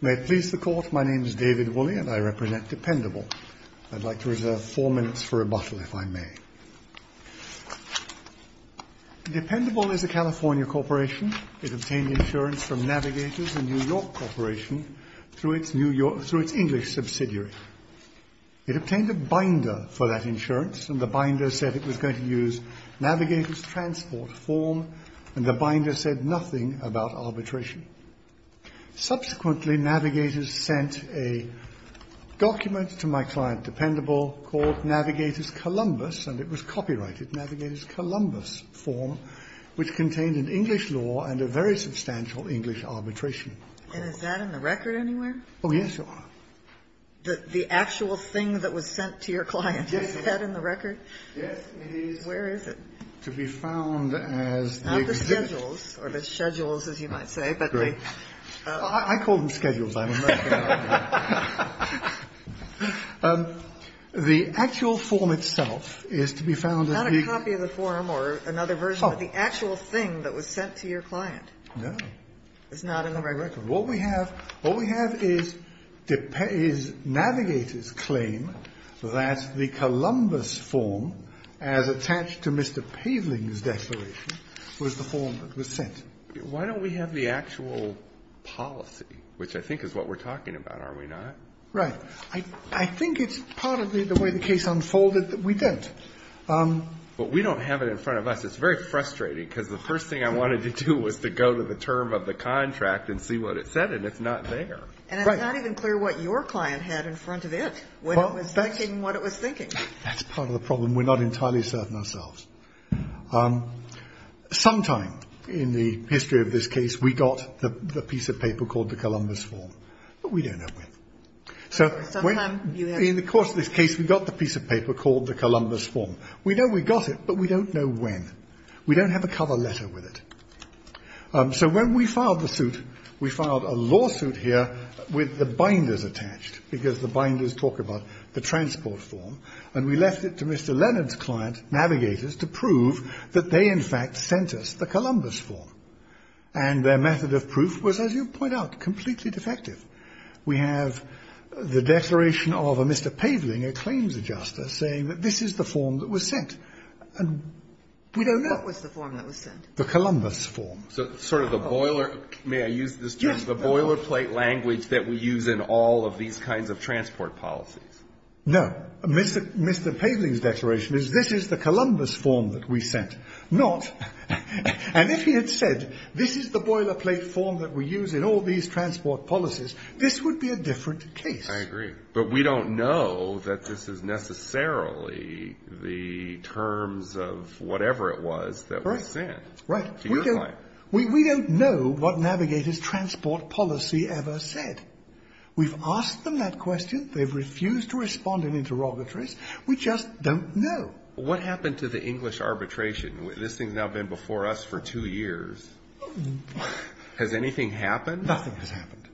May it please the Court, my name is David Woolley and I represent DEPENDABLE. I'd like to reserve four minutes for rebuttal, if I may. DEPENDABLE is a California corporation. It obtained insurance from NAVIGATORS, a New York corporation, through its English subsidiary. It obtained a binder for that insurance, and the binder said it was going to use NAVIGATORS transport form, and the binder said nothing about arbitration. Subsequently, NAVIGATORS sent a document to my client DEPENDABLE called NAVIGATORS Columbus, and it was copyrighted, NAVIGATORS Columbus form, which contained an English law and a very substantial English arbitration. And is that in the record anywhere? Oh, yes, Your Honor. The actual thing that was sent to your client, is that in the record? Yes, it is. Where is it? To be found as the existing... Not the schedules, or the schedules, as you might say, but the... I call them schedules, I'm American. The actual form itself is to be found as the... Not a copy of the form or another version, but the actual thing that was sent to your client. No. It's not in the record. What we have, what we have is NAVIGATORS claim that the Columbus form, as attached to Mr. Paveling's declaration, was the form that was sent. Why don't we have the actual policy, which I think is what we're talking about, are we not? Right. I think it's part of the way the case unfolded that we don't. But we don't have it in front of us. It's very frustrating, because the first thing I wanted to do was to go to the term of the contract and see what it said, and it's not there. And it's not even clear what your client had in front of it when it was thinking what it was thinking. That's part of the problem. We're not entirely certain ourselves. Sometime in the history of this case, we got the piece of paper called the Columbus form, but we don't know when. So in the course of this case, we got the piece of paper called the Columbus form. We know we got it, but we don't know when. We don't have a cover letter with it. So when we filed the suit, we filed a lawsuit here with the binders attached, because the binders talk about the transport form, and we left it to Mr. Leonard's client, Navigators, to prove that they, in fact, sent us the Columbus form. And their method of proof was, as you point out, completely defective. We have the declaration of a Mr. Paveling, a claims adjuster, saying that this is the form that was sent. And we don't know. What was the form that was sent? The Columbus form. So sort of the boiler, may I use this term? Yes. The boilerplate language that we use in all of these kinds of transport policies. No. Mr. Paveling's declaration is, this is the Columbus form that we sent. Not, and if he had said, this is the boilerplate form that we use in all these transport policies, this would be a different case. I agree. But we don't know that this is necessarily the terms of whatever it was that was sent. Right. To your client. We don't know what Navigator's transport policy ever said. We've asked them that question. They've refused to respond in interrogatories. We just don't know. What happened to the English arbitration? This thing's now been before us for two years. Has anything happened? Nothing has happened.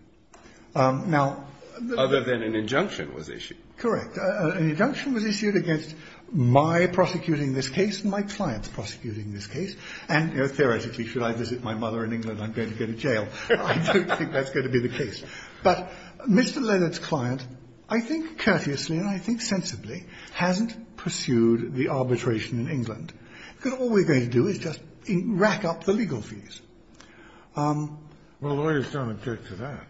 Now. Other than an injunction was issued. An injunction was issued against my prosecuting this case and my client's prosecuting this case. And theoretically, should I visit my mother in England, I'm going to go to jail. I don't think that's going to be the case. But Mr. Leonard's client, I think courteously and I think sensibly, hasn't pursued the arbitration in England. Because all we're going to do is just rack up the legal fees. Well, lawyers don't object to that.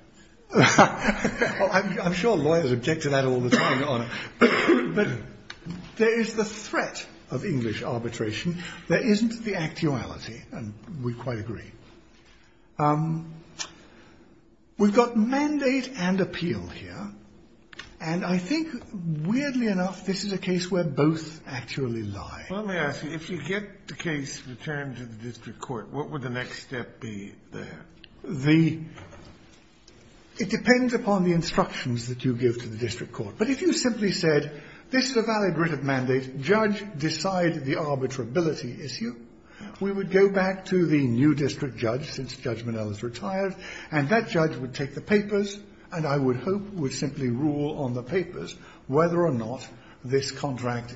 I'm sure lawyers object to that all the time, Your Honor. But there is the threat of English arbitration. There isn't the actuality, and we quite agree. We've got mandate and appeal here. And I think, weirdly enough, this is a case where both actually lie. Let me ask you, if you get the case returned to the district court, what would the next step be there? The, it depends upon the instructions that you give to the district court. But if you simply said, this is a valid writ of mandate. If judge decide the arbitrability issue, we would go back to the new district judge, since Judge Minnell is retired, and that judge would take the papers and I would hope would simply rule on the papers whether or not this contract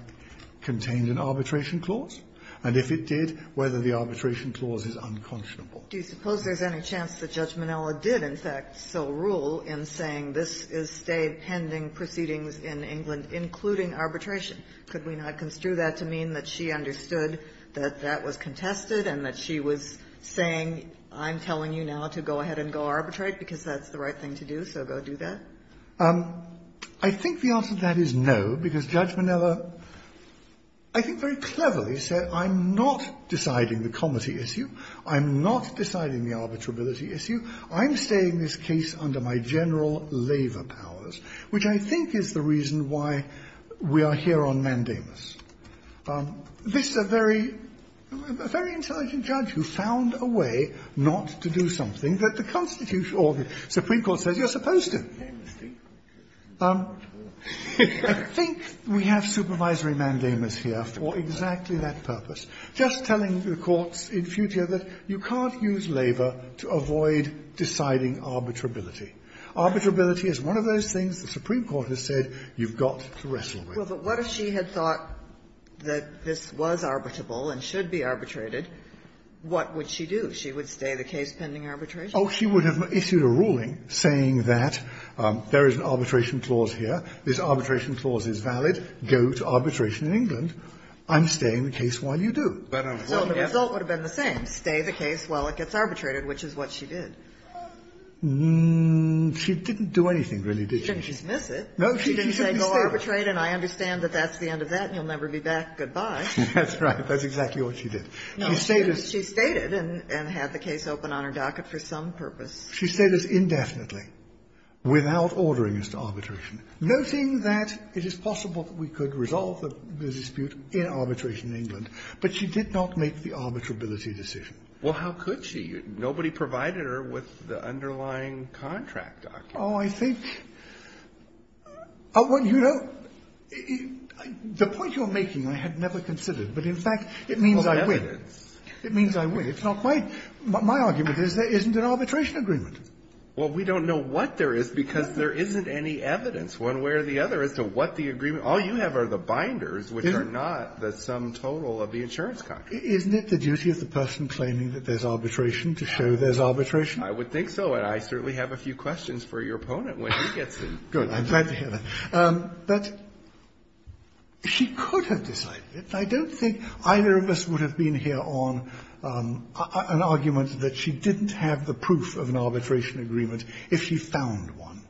contained an arbitration clause. And if it did, whether the arbitration clause is unconscionable. Do you suppose there's any chance that Judge Minnell did, in fact, so rule in saying this is stay pending proceedings in England, including arbitration? Could we not construe that to mean that she understood that that was contested and that she was saying, I'm telling you now to go ahead and go arbitrate, because that's the right thing to do, so go do that? I think the answer to that is no, because Judge Minnell, I think very cleverly, said I'm not deciding the comity issue. I'm not deciding the arbitrability issue. I'm staying this case under my general labor powers, which I think is the reason why we are here on mandamus. This is a very, a very intelligent judge who found a way not to do something that the Constitution or the Supreme Court says you're supposed to. I think we have supervisory mandamus here for exactly that purpose. Just telling the courts in future that you can't use labor to avoid deciding arbitrability. Arbitrability is one of those things the Supreme Court has said you've got to wrestle with. Kagan. Well, but what if she had thought that this was arbitrable and should be arbitrated? What would she do? She would stay the case pending arbitration? Oh, she would have issued a ruling saying that there is an arbitration clause here. This arbitration clause is valid. Go to arbitration in England. I'm staying the case while you do. So the result would have been the same, stay the case while it gets arbitrated, which is what she did. She didn't do anything, really, did she? She didn't dismiss it. No, she should be staying. She didn't say go arbitrate and I understand that that's the end of that and you'll never be back, goodbye. That's right. That's exactly what she did. She stayed as She stayed and had the case open on her docket for some purpose. She stayed as indefinitely without ordering us to arbitration, noting that it is possible that we could resolve the dispute in arbitration in England. But she did not make the arbitrability decision. Well, how could she? Nobody provided her with the underlying contract document. Oh, I think, you know, the point you're making I had never considered, but in fact it means I win. It means I win. It's not my argument is there isn't an arbitration agreement. Well, we don't know what there is because there isn't any evidence one way or the other as to what the agreement is. All you have are the binders, which are not the sum total of the insurance contract. Isn't it the duty of the person claiming that there's arbitration to show there's arbitration? I would think so, and I certainly have a few questions for your opponent when he gets in. Good. I'm glad to hear that. But she could have decided it. I don't think either of us would have been here on an argument that she didn't have the proof of an arbitration agreement if she found one.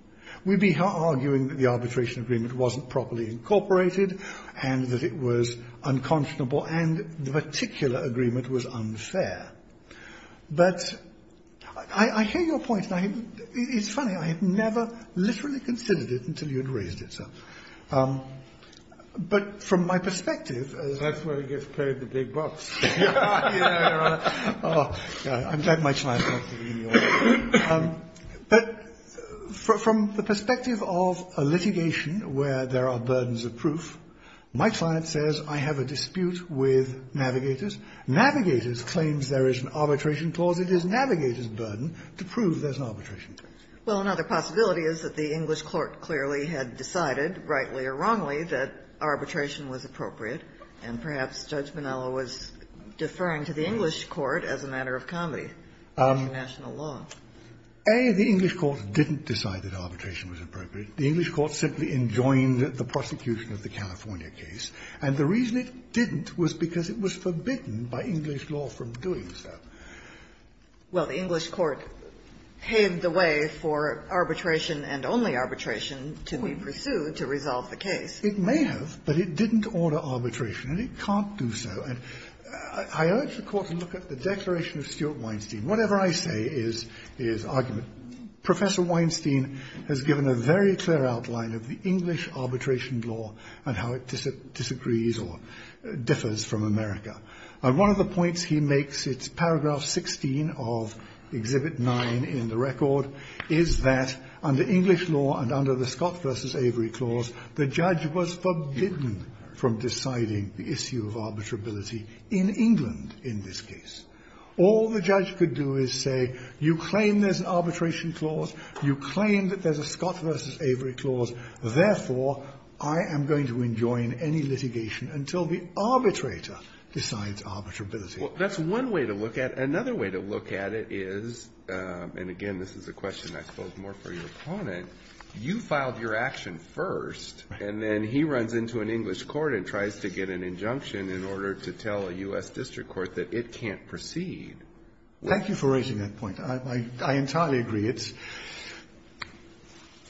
We'd be arguing that the arbitration agreement wasn't properly incorporated and that it was unconscionable and the particular agreement was unfair. But I hear your point. It's funny. I had never literally considered it until you had raised it, sir. But from my perspective, that's where it gets paid the big bucks. Oh, I'm glad much my opinion. But from the perspective of a litigation where there are burdens of proof, my client says I have a dispute with Navigators. Navigators claims there is an arbitration clause. It is Navigators' burden to prove there's an arbitration clause. Well, another possibility is that the English court clearly had decided, rightly or wrongly, that arbitration was appropriate, and perhaps Judge Minnello was deferring to the English court as a matter of comedy under national law. A, the English court didn't decide that arbitration was appropriate. The English court simply enjoined the prosecution of the California case. And the reason it didn't was because it was forbidden by English law from doing so. Well, the English court paved the way for arbitration and only arbitration to be pursued to resolve the case. It may have, but it didn't order arbitration, and it can't do so. And I urge the court to look at the Declaration of Stuart Weinstein. Whatever I say is argument. Professor Weinstein has given a very clear outline of the English arbitration law and how it disagrees or differs from America. And one of the points he makes, it's paragraph 16 of Exhibit 9 in the record, is that under English law and under the Scott versus Avery clause, the judge was forbidden from deciding the issue of arbitrability in England in this case. All the judge could do is say, you claim there's an arbitration clause, you claim that there's a Scott versus Avery clause, therefore, I am going to enjoin any litigation until the arbitrator decides arbitrability. Well, that's one way to look at it. Another way to look at it is, and again, this is a question, I suppose, more for your opponent, you filed your action first, and then he runs into an English court and tries to get an injunction in order to tell a US district court that it can't proceed. Thank you for raising that point. I entirely agree.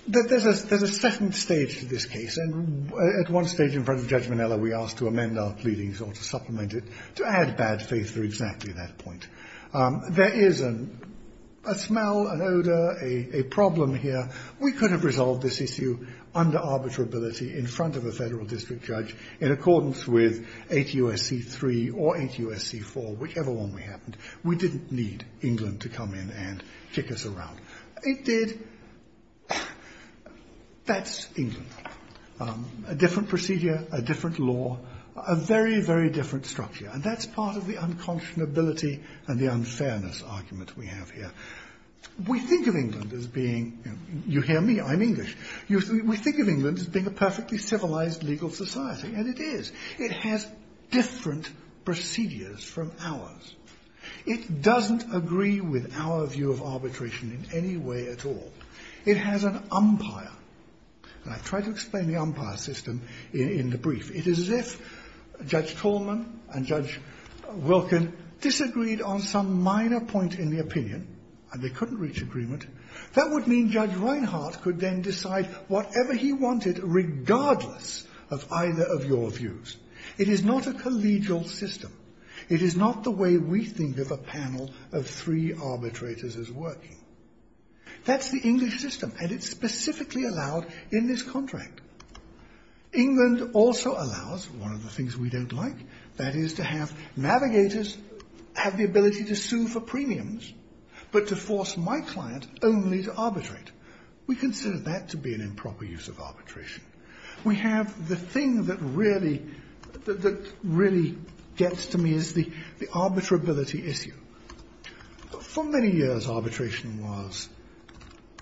There's a second stage to this case. And at one stage in front of Judge Manella, we asked to amend our pleadings or to supplement it, to add bad faith to exactly that point. There is a smell, an odor, a problem here. We could have resolved this issue under arbitrability in front of a federal district judge in accordance with 8 U.S.C. 3 or 8 U.S.C. 4, whichever one we happened. We didn't need England to come in and kick us around. It did, that's England, a different procedure, a different law, a very, very different structure. And that's part of the unconscionability and the unfairness argument we have here. We think of England as being, you hear me, I'm English. We think of England as being a perfectly civilized legal society, and it is. It has different procedures from ours. It doesn't agree with our view of arbitration in any way at all. It has an umpire, and I've tried to explain the umpire system in the brief. It is as if Judge Coleman and Judge Wilken disagreed on some minor point in the opinion, and they couldn't reach agreement, that would mean Judge Reinhart could then decide whatever he wanted, regardless of either of your views. It is not a collegial system. It is not the way we think of a panel of three arbitrators as working. That's the English system, and it's specifically allowed in this contract. England also allows, one of the things we don't like, that is to have navigators have the ability to sue for premiums, but to force my client only to arbitrate. We consider that to be an improper use of arbitration. We have the thing that really gets to me is the arbitrability issue. For many years, arbitration was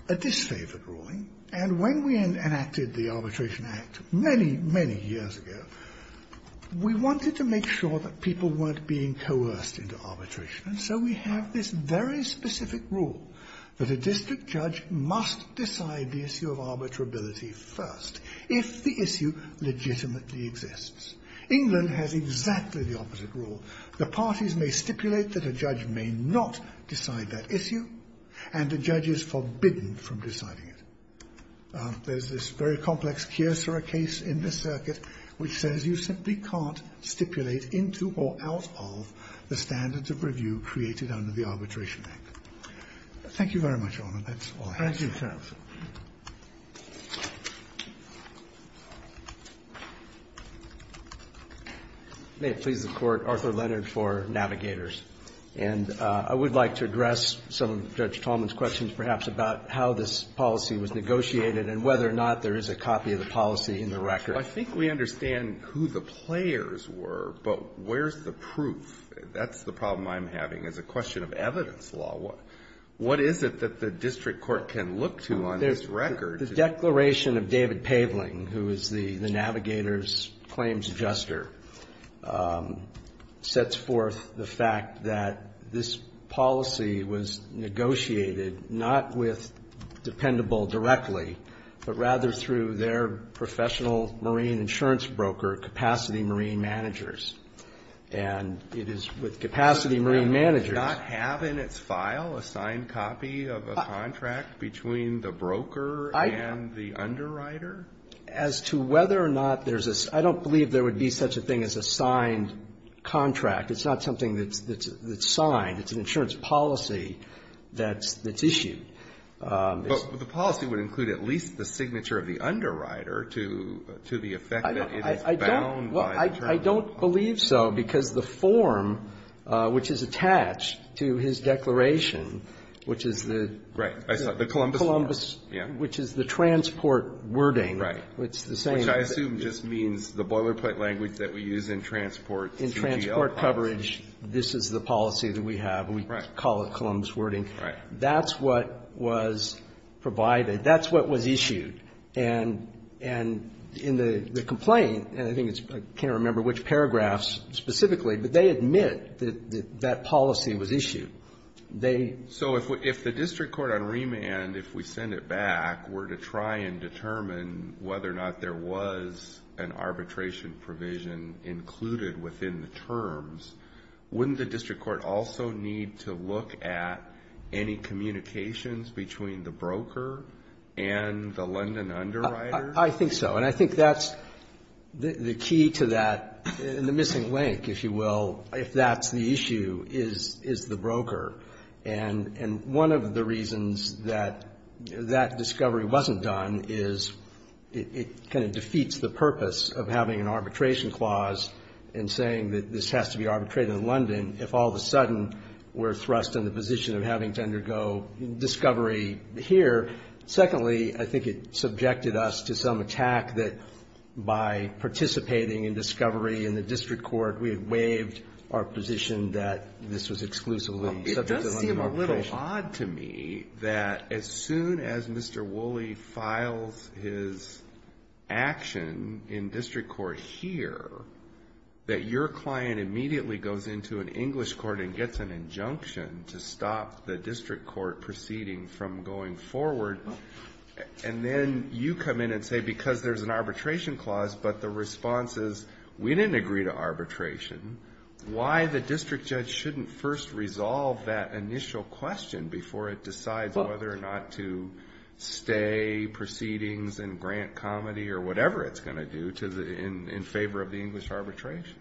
a disfavored ruling. And when we enacted the Arbitration Act, many, many years ago, we wanted to make sure that people weren't being coerced into arbitration. And so we have this very specific rule that a district judge must decide the issue of arbitrability first, if the issue legitimately exists. England has exactly the opposite rule. The parties may stipulate that a judge may not decide that issue, and the judge is forbidden from deciding it. There's this very complex Kearser case in the circuit, which says you simply can't stipulate into or out of the standards of review created under the Arbitration Act. Thank you very much, Your Honor. That's all I have. Thank you, Your Honor. May it please the Court, Arthur Leonard for Navigators. And I would like to address some of Judge Tallman's questions, perhaps, about how this policy was negotiated and whether or not there is a copy of the policy in the record. I think we understand who the players were, but where's the proof? That's the problem I'm having as a question of evidence law. What is it that the district court can look to on this record? The declaration of David Paveling, who is the Navigators' claims adjuster, sets forth the fact that this policy was negotiated, not with dependable directly, but rather through their professional marine insurance broker, Capacity Marine Managers. And it is with Capacity Marine Managers- Does it not have in its file a signed copy of a contract between the broker and the underwriter? As to whether or not there's a- I don't believe there would be such a thing as a signed contract. It's not something that's signed. It's an insurance policy that's issued. But the policy would include at least the signature of the underwriter to the effect that it is bound by- I don't believe so, because the form which is attached to his declaration, which is the- Right. I saw the Columbus- Right. Which I assume just means the boilerplate language that we use in transport- In transport coverage, this is the policy that we have. We call it Columbus wording. Right. That's what was provided. That's what was issued. And in the complaint, and I think it's- I can't remember which paragraphs specifically, but they admit that that policy was issued. They- So if the district court on remand, if we send it back, were to try and determine whether or not there was an arbitration provision included within the terms, wouldn't the district court also need to look at any communications between the broker and the London underwriter? I think so. And I think that's the key to that, and the missing link, if you will, if that's the issue, is the broker. And one of the reasons that that discovery wasn't done is it kind of defeats the purpose of having an arbitration clause and saying that this has to be arbitrated in London if all of a sudden we're thrust in the position of having to undergo discovery here. Secondly, I think it subjected us to some attack that by participating in discovery in the district court, we have waived our position that this was exclusively subject to London arbitration. It does seem a little odd to me that as soon as Mr. Woolley files his action in district court here, that your client immediately goes into an English court and gets an injunction to stop the district court proceeding from going forward, and then you come in and say because there's an arbitration clause, but the response is we didn't agree to arbitration, why the district judge shouldn't first resolve that initial question before it decides whether or not to stay proceedings and grant comity or whatever it's going to do in favor of the English arbitration?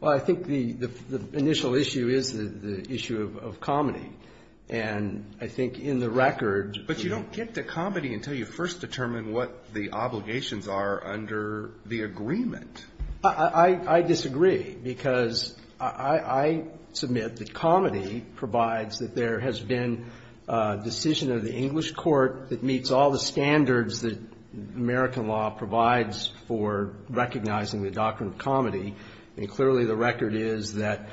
Well, I think the initial issue is the issue of comity. And I think in the record the But you don't get to comity until you first determine what the obligations are under the agreement. I disagree, because I submit that comity provides that there has been a decision of the English court that meets all the standards that American law provides for recognizing the doctrine of comity. And clearly the record is that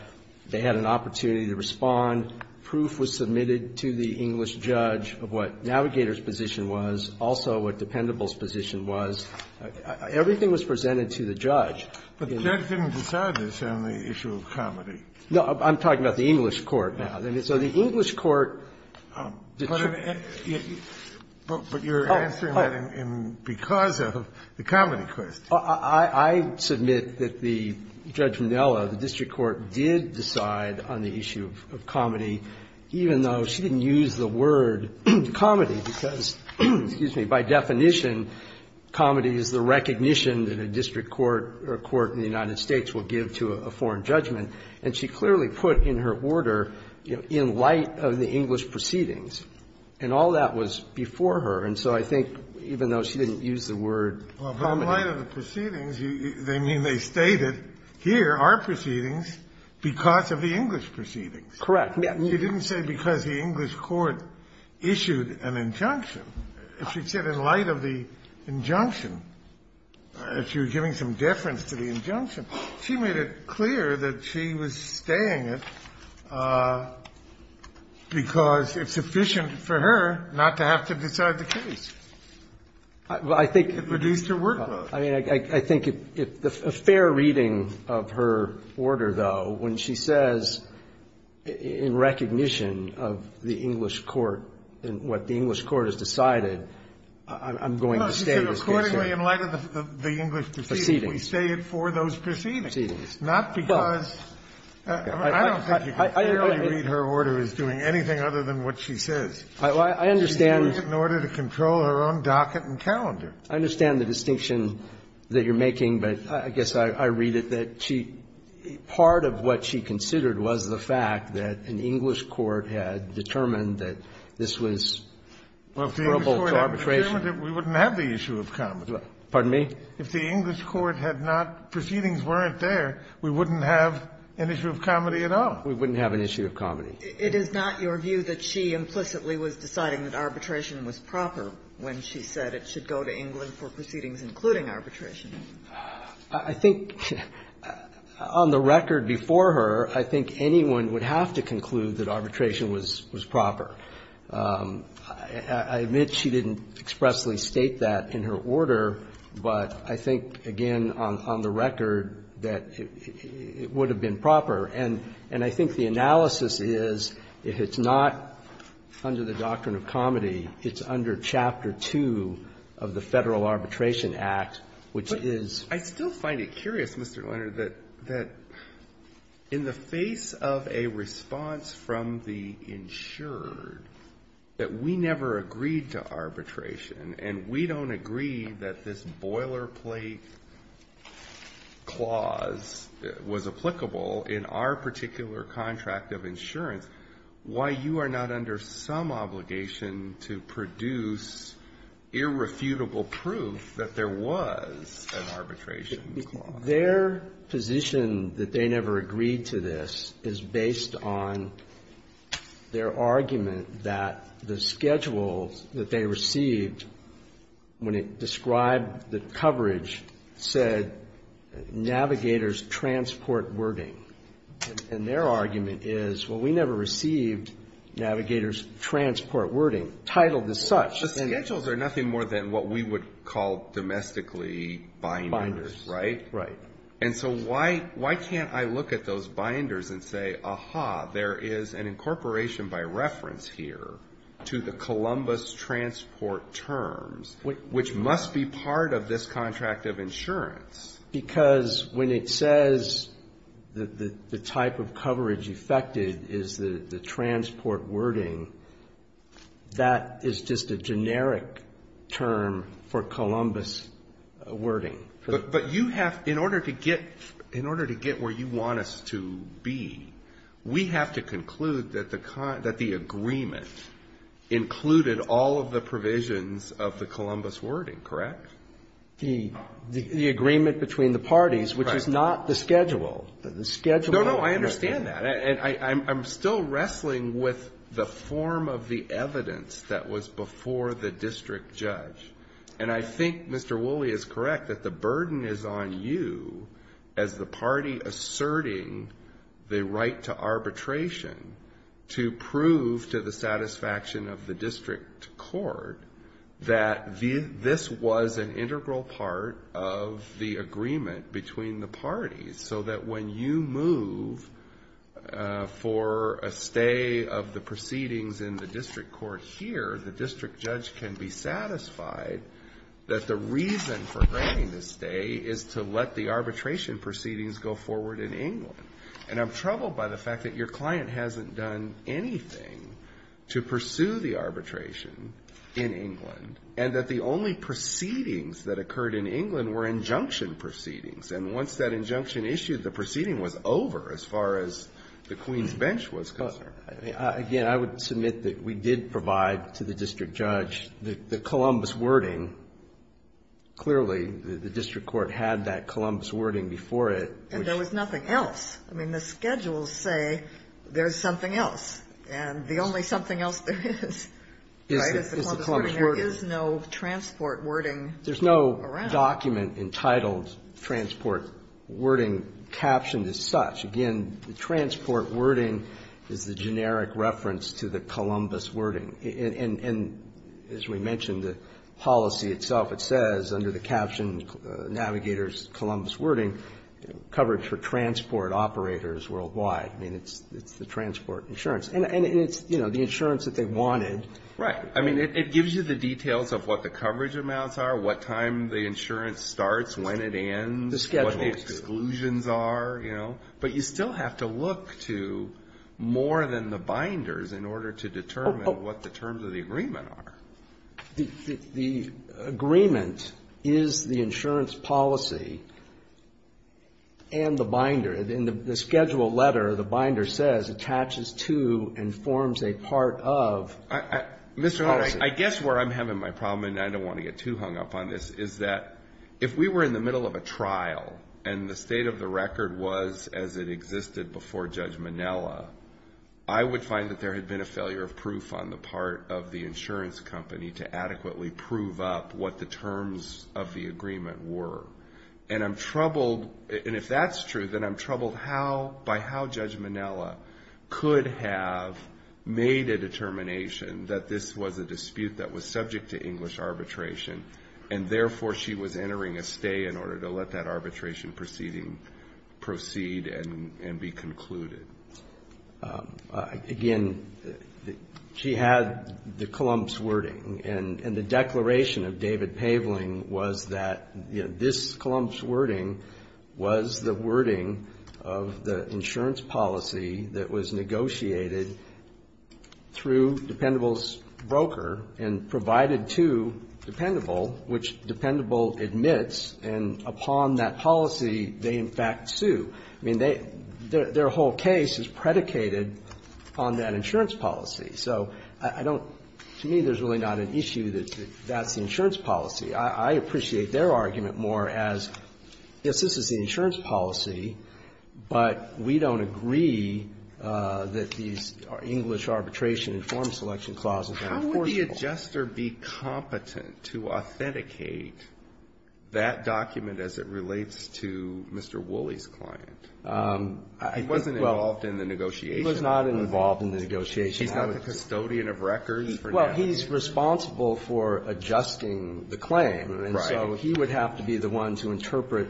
they had an opportunity to respond. Proof was submitted to the English judge of what Navigator's position was, also what the Pendable's position was. Everything was presented to the judge. But the judge didn't decide this on the issue of comity. No, I'm talking about the English court now. So the English court But you're answering that because of the comity question. I submit that the Judge Minella, the district court, did decide on the issue of comity, even though she didn't use the word comity, because, excuse me, by definition comity is the recognition that a district court or a court in the United States will give to a foreign judgment. And she clearly put in her order, you know, in light of the English proceedings. And all that was before her. And so I think even though she didn't use the word comity Well, but in light of the proceedings, they mean they stated, here are proceedings because of the English proceedings. Correct. You didn't say because the English court issued an injunction. If she said in light of the injunction, if she was giving some deference to the injunction, she made it clear that she was staying it because it's efficient for her not to have to decide the case. I think it reduced her workload. I mean, I think a fair reading of her order, though, when she says in recognition of the English court and what the English court has decided, I'm going to stay this case. No, she said accordingly in light of the English proceedings. Proceedings. We stay it for those proceedings. Proceedings. Not because of the order. I don't think you can clearly read her order as doing anything other than what she says. I understand. She's doing it in order to control her own docket and calendar. I understand the distinction that you're making, but I guess I read it that she was saying part of what she considered was the fact that an English court had determined that this was comparable to arbitration. Well, if the English court had determined it, we wouldn't have the issue of comedy. Pardon me? If the English court had not – proceedings weren't there, we wouldn't have an issue of comedy at all. We wouldn't have an issue of comedy. It is not your view that she implicitly was deciding that arbitration was proper when she said it should go to England for proceedings including arbitration. I think on the record before her, I think anyone would have to conclude that arbitration was proper. I admit she didn't expressly state that in her order, but I think, again, on the record, that it would have been proper. And I think the analysis is if it's not under the doctrine of comedy, it's under Chapter 2 of the Federal Arbitration Act, which is… But I still find it curious, Mr. Leonard, that in the face of a response from the insured that we never agreed to arbitration and we don't agree that this boilerplate clause was applicable in our particular contract of insurance, why you are not under some obligation to produce irrefutable proof that there was an arbitration clause? Their position that they never agreed to this is based on their argument that the schedule that they received when it described the coverage said navigators transport wording. And their argument is, well, we never received navigators transport wording titled as such. The schedules are nothing more than what we would call domestically binders, right? Right. And so why can't I look at those binders and say, aha, there is an incorporation by reference here to the Columbus transport terms, which must be part of this contract of insurance? Because when it says that the type of coverage affected is the transport wording, that is just a generic term for Columbus wording. But you have… in order to get where you want us to be, we have to conclude that the agreement included all of the provisions of the Columbus wording, correct? The agreement between the parties, which is not the schedule. The schedule… No, no. I understand that. And I'm still wrestling with the form of the evidence that was before the district judge. And I think Mr. Woolley is correct that the burden is on you as the party asserting the right to arbitration to prove to the satisfaction of the district court that this was an integral part of the agreement between the parties. So that when you move for a stay of the proceedings in the district court here, the district judge can be satisfied that the reason for granting the stay is to let the arbitration proceedings go forward in England. And I'm troubled by the fact that your client hasn't done anything to pursue the proceedings that occurred in England were injunction proceedings. And once that injunction issued, the proceeding was over as far as the Queen's Bench was concerned. Again, I would submit that we did provide to the district judge the Columbus wording. Clearly, the district court had that Columbus wording before it. And there was nothing else. I mean, the schedules say there's something else. And the only something else there is, right, is the Columbus wording. Sotomayor, there is no transport wording around. There's no document entitled transport wording captioned as such. Again, the transport wording is the generic reference to the Columbus wording. And as we mentioned, the policy itself, it says under the caption, Navigator's Columbus wording, coverage for transport operators worldwide. I mean, it's the transport insurance. And it's, you know, the insurance that they wanted. Right. I mean, it gives you the details of what the coverage amounts are, what time the insurance starts, when it ends, what the exclusions are, you know. But you still have to look to more than the binders in order to determine what the terms of the agreement are. The agreement is the insurance policy and the binder. In the schedule letter, the binder says, attaches to and forms a part of. Mr. Horwich, I guess where I'm having my problem, and I don't want to get too hung up on this, is that if we were in the middle of a trial and the state of the record was as it existed before Judge Minella, I would find that there had been a failure of proof on the part of the insurance company to adequately prove up what the terms of the agreement were. And I'm troubled, and if that's true, then I'm troubled by how Judge Minella could have made a determination that this was a dispute that was subject to English arbitration, and therefore, she was entering a stay in order to let that arbitration proceeding proceed and be concluded. Again, she had the Columbus wording, and the declaration of David Paveling was that, you know, this Columbus wording was the wording of the insurance policy that was negotiated through Dependable's broker and provided to Dependable, which Dependable admits, and upon that policy, they in fact sue. I mean, their whole case is predicated on that insurance policy. So I don't, to me, there's really not an issue that that's the insurance policy. I appreciate their argument more as, yes, this is the insurance policy, but we don't agree that these English arbitration and form selection clauses are enforceable. Alito How would the adjuster be competent to authenticate that document as it relates to Mr. Woolley's client? He wasn't involved in the negotiation. Verrilli, Jr. He was not involved in the negotiation. Alito He's not the custodian of records for now? Verrilli, Jr. Well, he's responsible for adjusting the claim. Alito Right. Verrilli, Jr. And so he would have to be the one to interpret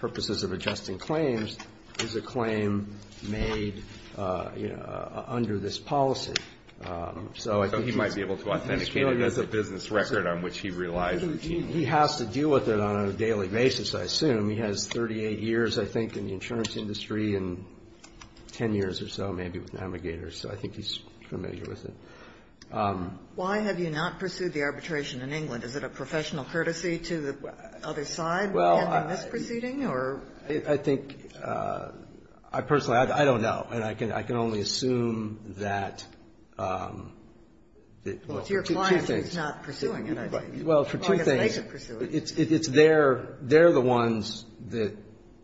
purposes of adjusting the claims as a claim made, you know, under this policy. Alito So he might be able to authenticate it as a business record on which he relies Verrilli, Jr. He has to deal with it on a daily basis, I assume. He has 38 years, I think, in the insurance industry and 10 years or so maybe with Navigators. So I think he's familiar with it. Ginsburg Why have you not pursued the arbitration in England? Is it a professional courtesy to the other side by having this proceeding or? Verrilli, Jr. I think, I personally, I don't know. And I can only assume that, well, two things. Ginsburg Well, it's your client who's not pursuing it, I think. Verrilli, Jr. Well, for two things. Ginsburg Well, I guess they should pursue it. Verrilli, Jr. It's their, they're the ones that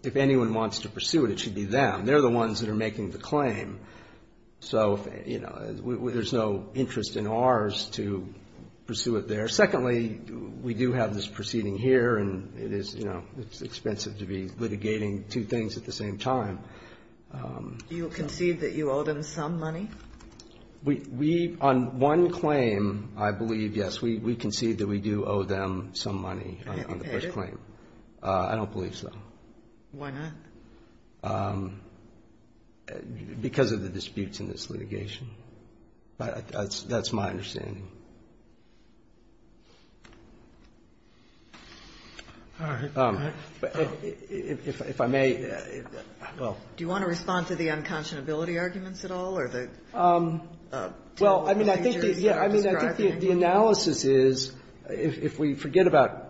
if anyone wants to pursue it, it should be them. They're the ones that are making the claim. So, you know, there's no interest in ours to pursue it there. Secondly, we do have this proceeding here. And it is, you know, it's expensive to be litigating two things at the same time. Ginsburg Do you concede that you owe them some money? Verrilli, Jr. We, on one claim, I believe, yes, we concede that we do owe them some money on the first claim. I don't believe so. Ginsburg Why not? Verrilli, Jr. Because of the disputes in this litigation. But that's my understanding. If I may, well ---- Ginsburg Do you want to respond to the unconscionability arguments at all, or the Verrilli, Jr. Well, I mean, I think the analysis is, if we forget about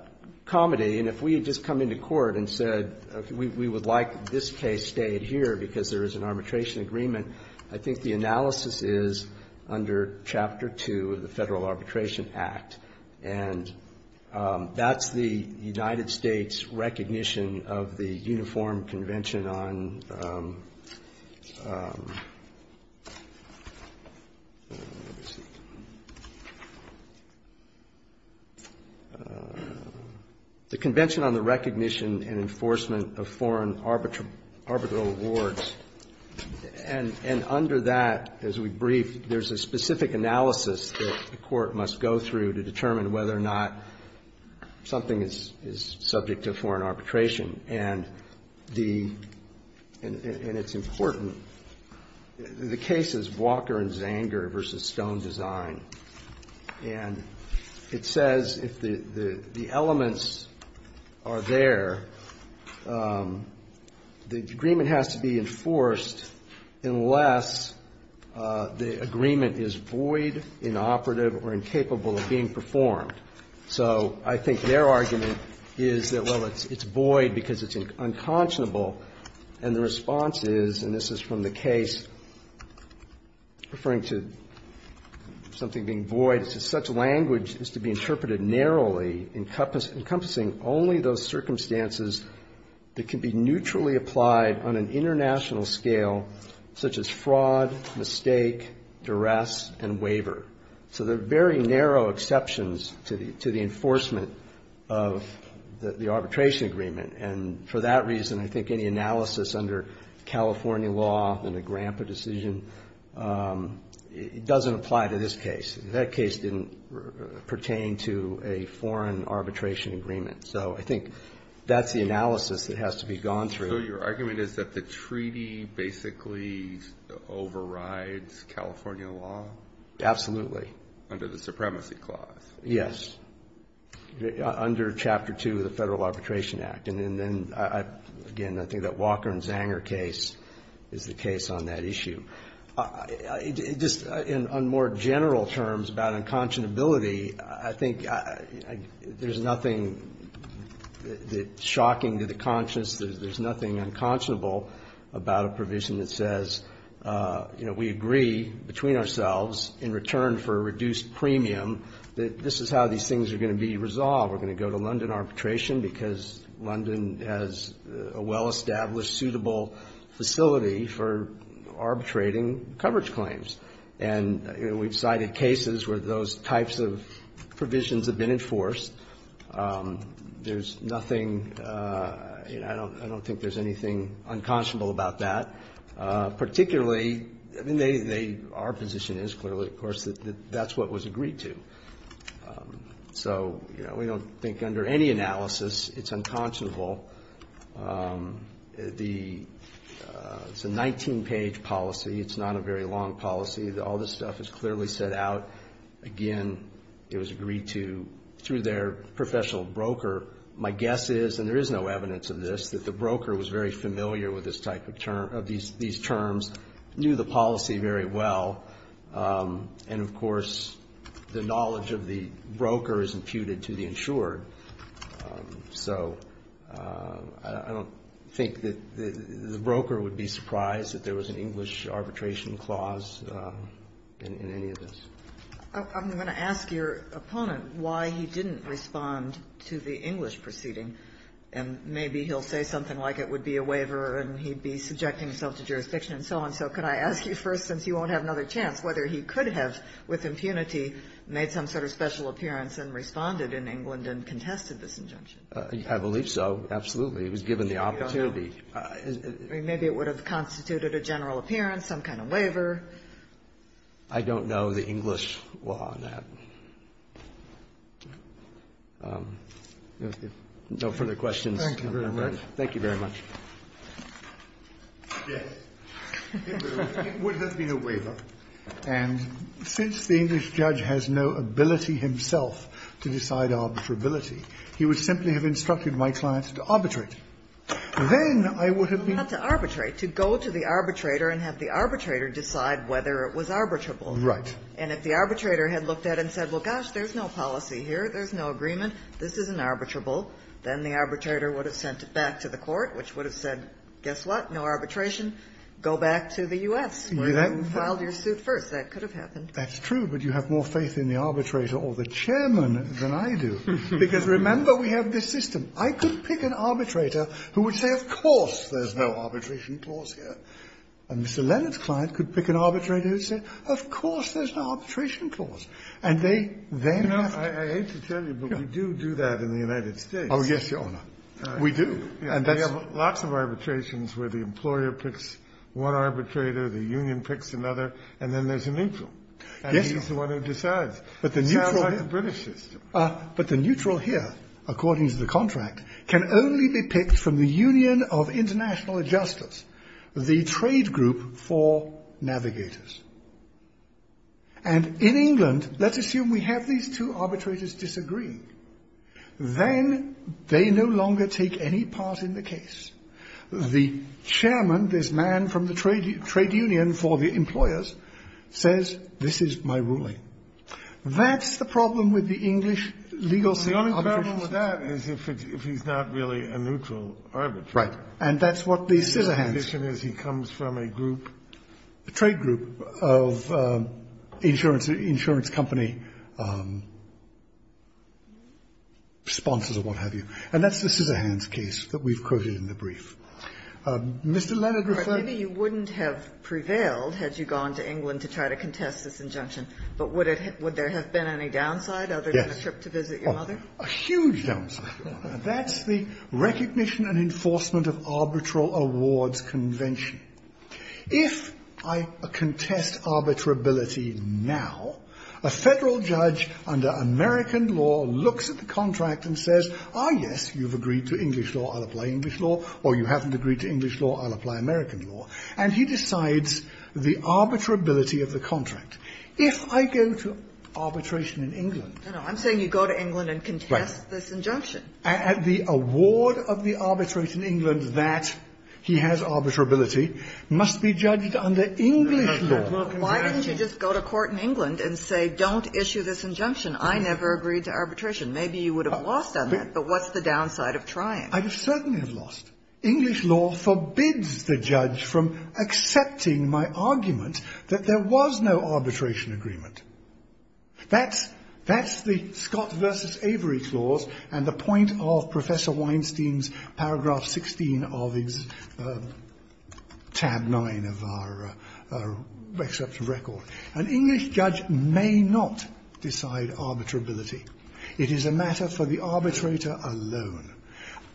Comedy and if we had just come into court and said we would like this case stayed here because there is an arbitration agreement, I think the analysis is under Chapter 2 of the Federal Arbitration Act. And that's the United States recognition of the Uniform Convention on the Convention on the Recognition and Enforcement of Foreign Arbitral Rewards. And under that, as we brief, there's a specific analysis that the Court must go through to determine whether or not something is subject to foreign arbitration. And the ---- and it's important. The case is Walker and Zanger v. Stone Design. And it says if the elements are there, the agreement has to be enforced unless the agreement is void, inoperative, or incapable of being performed. So I think their argument is that, well, it's void because it's unconscionable. And the response is, and this is from the case referring to something being void, is that such language has to be interpreted narrowly, encompassing only those circumstances that can be neutrally applied on an international scale such as fraud, mistake, duress, and waiver. So there are very narrow exceptions to the enforcement of the arbitration agreement. And for that reason, I think any analysis under California law in a GRAMPA decision doesn't apply to this case. That case didn't pertain to a foreign arbitration agreement. So I think that's the analysis that has to be gone through. So your argument is that the treaty basically overrides California law? Absolutely. Under the Supremacy Clause? Yes. Under Chapter 2 of the Federal Arbitration Act. And then, again, I think that Walker and Zanger case is the case on that issue. Just on more general terms about unconscionability, I think there's nothing that's shocking to the conscience. There's nothing unconscionable about a provision that says, you know, we agree between ourselves in return for a reduced premium that this is how these things are going to be resolved. We're going to go to London arbitration because London has a well-established, suitable facility for arbitrating coverage claims. And we've cited cases where those types of provisions have been enforced. There's nothing – I don't think there's anything unconscionable about that. Particularly, I mean, they – our position is clearly, of course, that that's what was agreed to. So, you know, we don't think under any analysis it's unconscionable. The – it's a 19-page policy. It's not a very long policy. All this stuff is clearly set out. Again, it was agreed to through their professional broker. My guess is, and there is no evidence of this, that the broker was very familiar with this type of term – of these terms, knew the policy very well. And, of course, the knowledge of the broker is imputed to the insured. So I don't think that the broker would be surprised that there was an English arbitration clause in any of this. MS. GOTTLIEB I'm going to ask your opponent why he didn't respond to the English proceeding. And maybe he'll say something like it would be a waiver and he'd be subjecting himself to jurisdiction and so on. So could I ask you first, since you won't have another chance, whether he could have, with impunity, made some sort of special appearance and responded in England and contested this injunction? CHIEF JUSTICE ROBERTS I believe so, absolutely. It was given the opportunity. MS. GOTTLIEB Maybe it would have constituted a general appearance, some kind of waiver. CHIEF JUSTICE ROBERTS I don't know the English law on that. No further questions. CHIEF JUSTICE ROBERTS Thank you very much. CHIEF JUSTICE ROBERTS Yes. It would have been a waiver. And since the English judge has no ability himself to decide arbitrability, he would simply have instructed my client to arbitrate. Then I would have been MS. GOTTLIEB Not to arbitrate, to go to the arbitrator and have the arbitrator decide whether it was arbitrable. CHIEF JUSTICE ROBERTS Right. MS. GOTTLIEB There's no policy here. There's no agreement. This isn't arbitrable. Then the arbitrator would have sent it back to the court, which would have said, guess what, no arbitration, go back to the U.S., where you filed your suit first. That could have happened. CHIEF JUSTICE ROBERTS That's true, but you have more faith in the arbitrator or the chairman than I do, because remember we have this system. I could pick an arbitrator who would say, of course, there's no arbitration clause here. And Mr. Leonard's client could pick an arbitrator who would say, of course, there's no arbitration clause. And they then have to do it. THE COURT I hate to tell you, but we do do that in the United States. CHIEF JUSTICE ROBERTS Oh, yes, Your Honor. THE COURT We do. THE COURT We have lots of arbitrations where the employer picks one arbitrator, the union picks another, and then there's a neutral. And he's the one who decides. It sounds like the British system. CHIEF JUSTICE ROBERTS But the neutral here, according to the contract, can only be picked from the Union of International Adjusters, the trade group for navigators. And in England, let's assume we have these two arbitrators disagree. Then they no longer take any part in the case. The chairman, this man from the trade union for the employers, says, this is my ruling. That's the problem with the English legal system. THE COURT The only problem with that is if he's not really a neutral arbitrator. CHIEF JUSTICE ROBERTS Right. And that's what the scissorhands. THE COURT The condition is he comes from a group. A trade group of insurance company sponsors or what have you. And that's the scissorhands case that we've quoted in the brief. Mr. Leonard referred to the case. KAGAN Maybe you wouldn't have prevailed had you gone to England to try to contest this injunction. But would there have been any downside other than a trip to visit your mother? CHIEF JUSTICE ROBERTS A huge downside. That's the Recognition and Enforcement of Arbitral Awards Convention. If I contest arbitrability now, a Federal judge under American law looks at the contract and says, ah, yes, you've agreed to English law, I'll apply English law, or you haven't agreed to English law, I'll apply American law, and he decides the arbitrability of the contract. If I go to arbitration in England and the award of the arbitrate in England that he has arbitrability must be judged under English law. KAGAN Why didn't you just go to court in England and say, don't issue this injunction? I never agreed to arbitration. Maybe you would have lost on that, but what's the downside of trying? CHIEF JUSTICE ROBERTS I'd certainly have lost. English law forbids the judge from accepting my argument that there was no arbitration agreement. That's the Scott v. Avery clause and the point of Professor Weinstein's paragraph 16 of his tab 9 of our exceptional record. An English judge may not decide arbitrability. It is a matter for the arbitrator alone,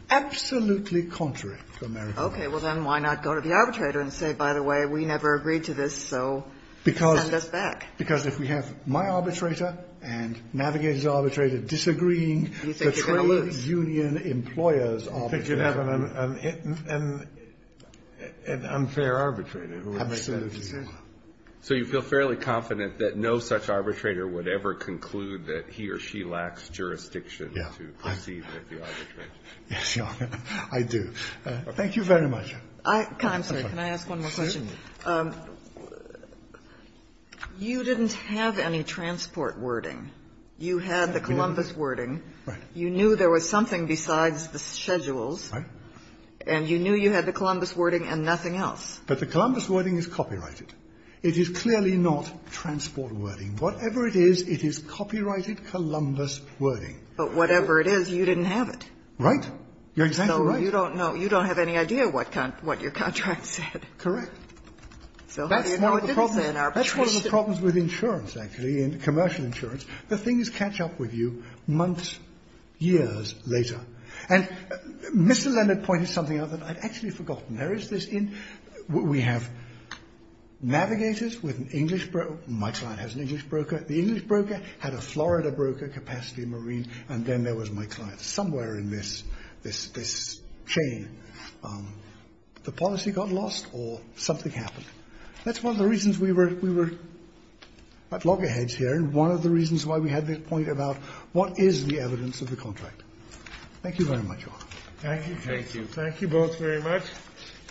absolutely contrary to American law. KAGAN Okay. Well, then why not go to the arbitrator and say, by the way, we never agreed to this, so send us back? CHIEF JUSTICE ROBERTS Because if we have my arbitrator and navigator's arbitrator disagreeing, the trade union employer's arbitrator's arbitrator is an unfair arbitrator who has to make that decision. KAGAN So you feel fairly confident that no such arbitrator would ever conclude that he or she lacks jurisdiction to proceed with the arbitration? CHIEF JUSTICE ROBERTS Yes, Your Honor, I do. Thank you very much. Kagan, I'm sorry, can I ask one more question? You didn't have any transport wording. You had the Columbus wording. You knew there was something besides the schedules. And you knew you had the Columbus wording and nothing else. CHIEF JUSTICE ROBERTS But the Columbus wording is copyrighted. It is clearly not transport wording. Whatever it is, it is copyrighted Columbus wording. Kagan But whatever it is, you didn't have it. CHIEF JUSTICE ROBERTS Right. You're exactly right. Kagan So you don't know, you don't have any idea what your contract said. CHIEF JUSTICE ROBERTS Correct. That's one of the problems. That's one of the problems with insurance, actually, commercial insurance. The things catch up with you months, years later. And Mr. Leonard pointed something out that I'd actually forgotten. There is this in, we have navigators with an English broker. My client has an English broker. The English broker had a Florida broker, Capacity Marine. And then there was my client. Somewhere in this chain, the policy got lost or something happened. That's one of the reasons we were at loggerheads here. And one of the reasons why we had this point about what is the evidence of the contract. Thank you very much, all. CHIEF JUSTICE ROBERTS Thank you. Thank you. Thank you both very much.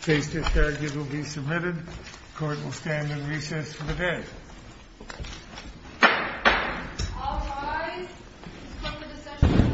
Case discharges will be submitted. Court will stand in recess for the day. All rise. Let's come to the session.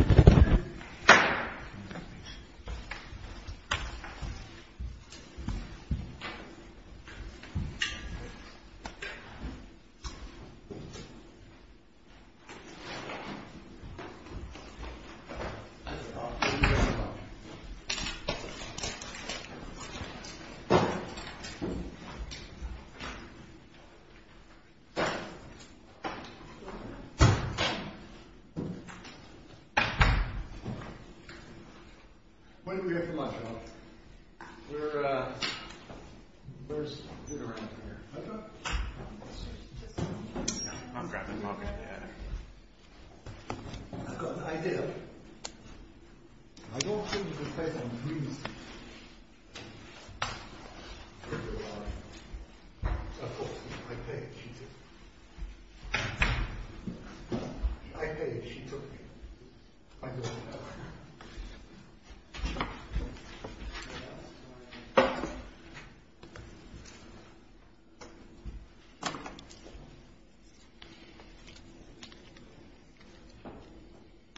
When did we get the mushrooms? We were, uh, we were sitting around here. I've got the idea. I don't think you can pay for them, please. I paid, she took. I don't know.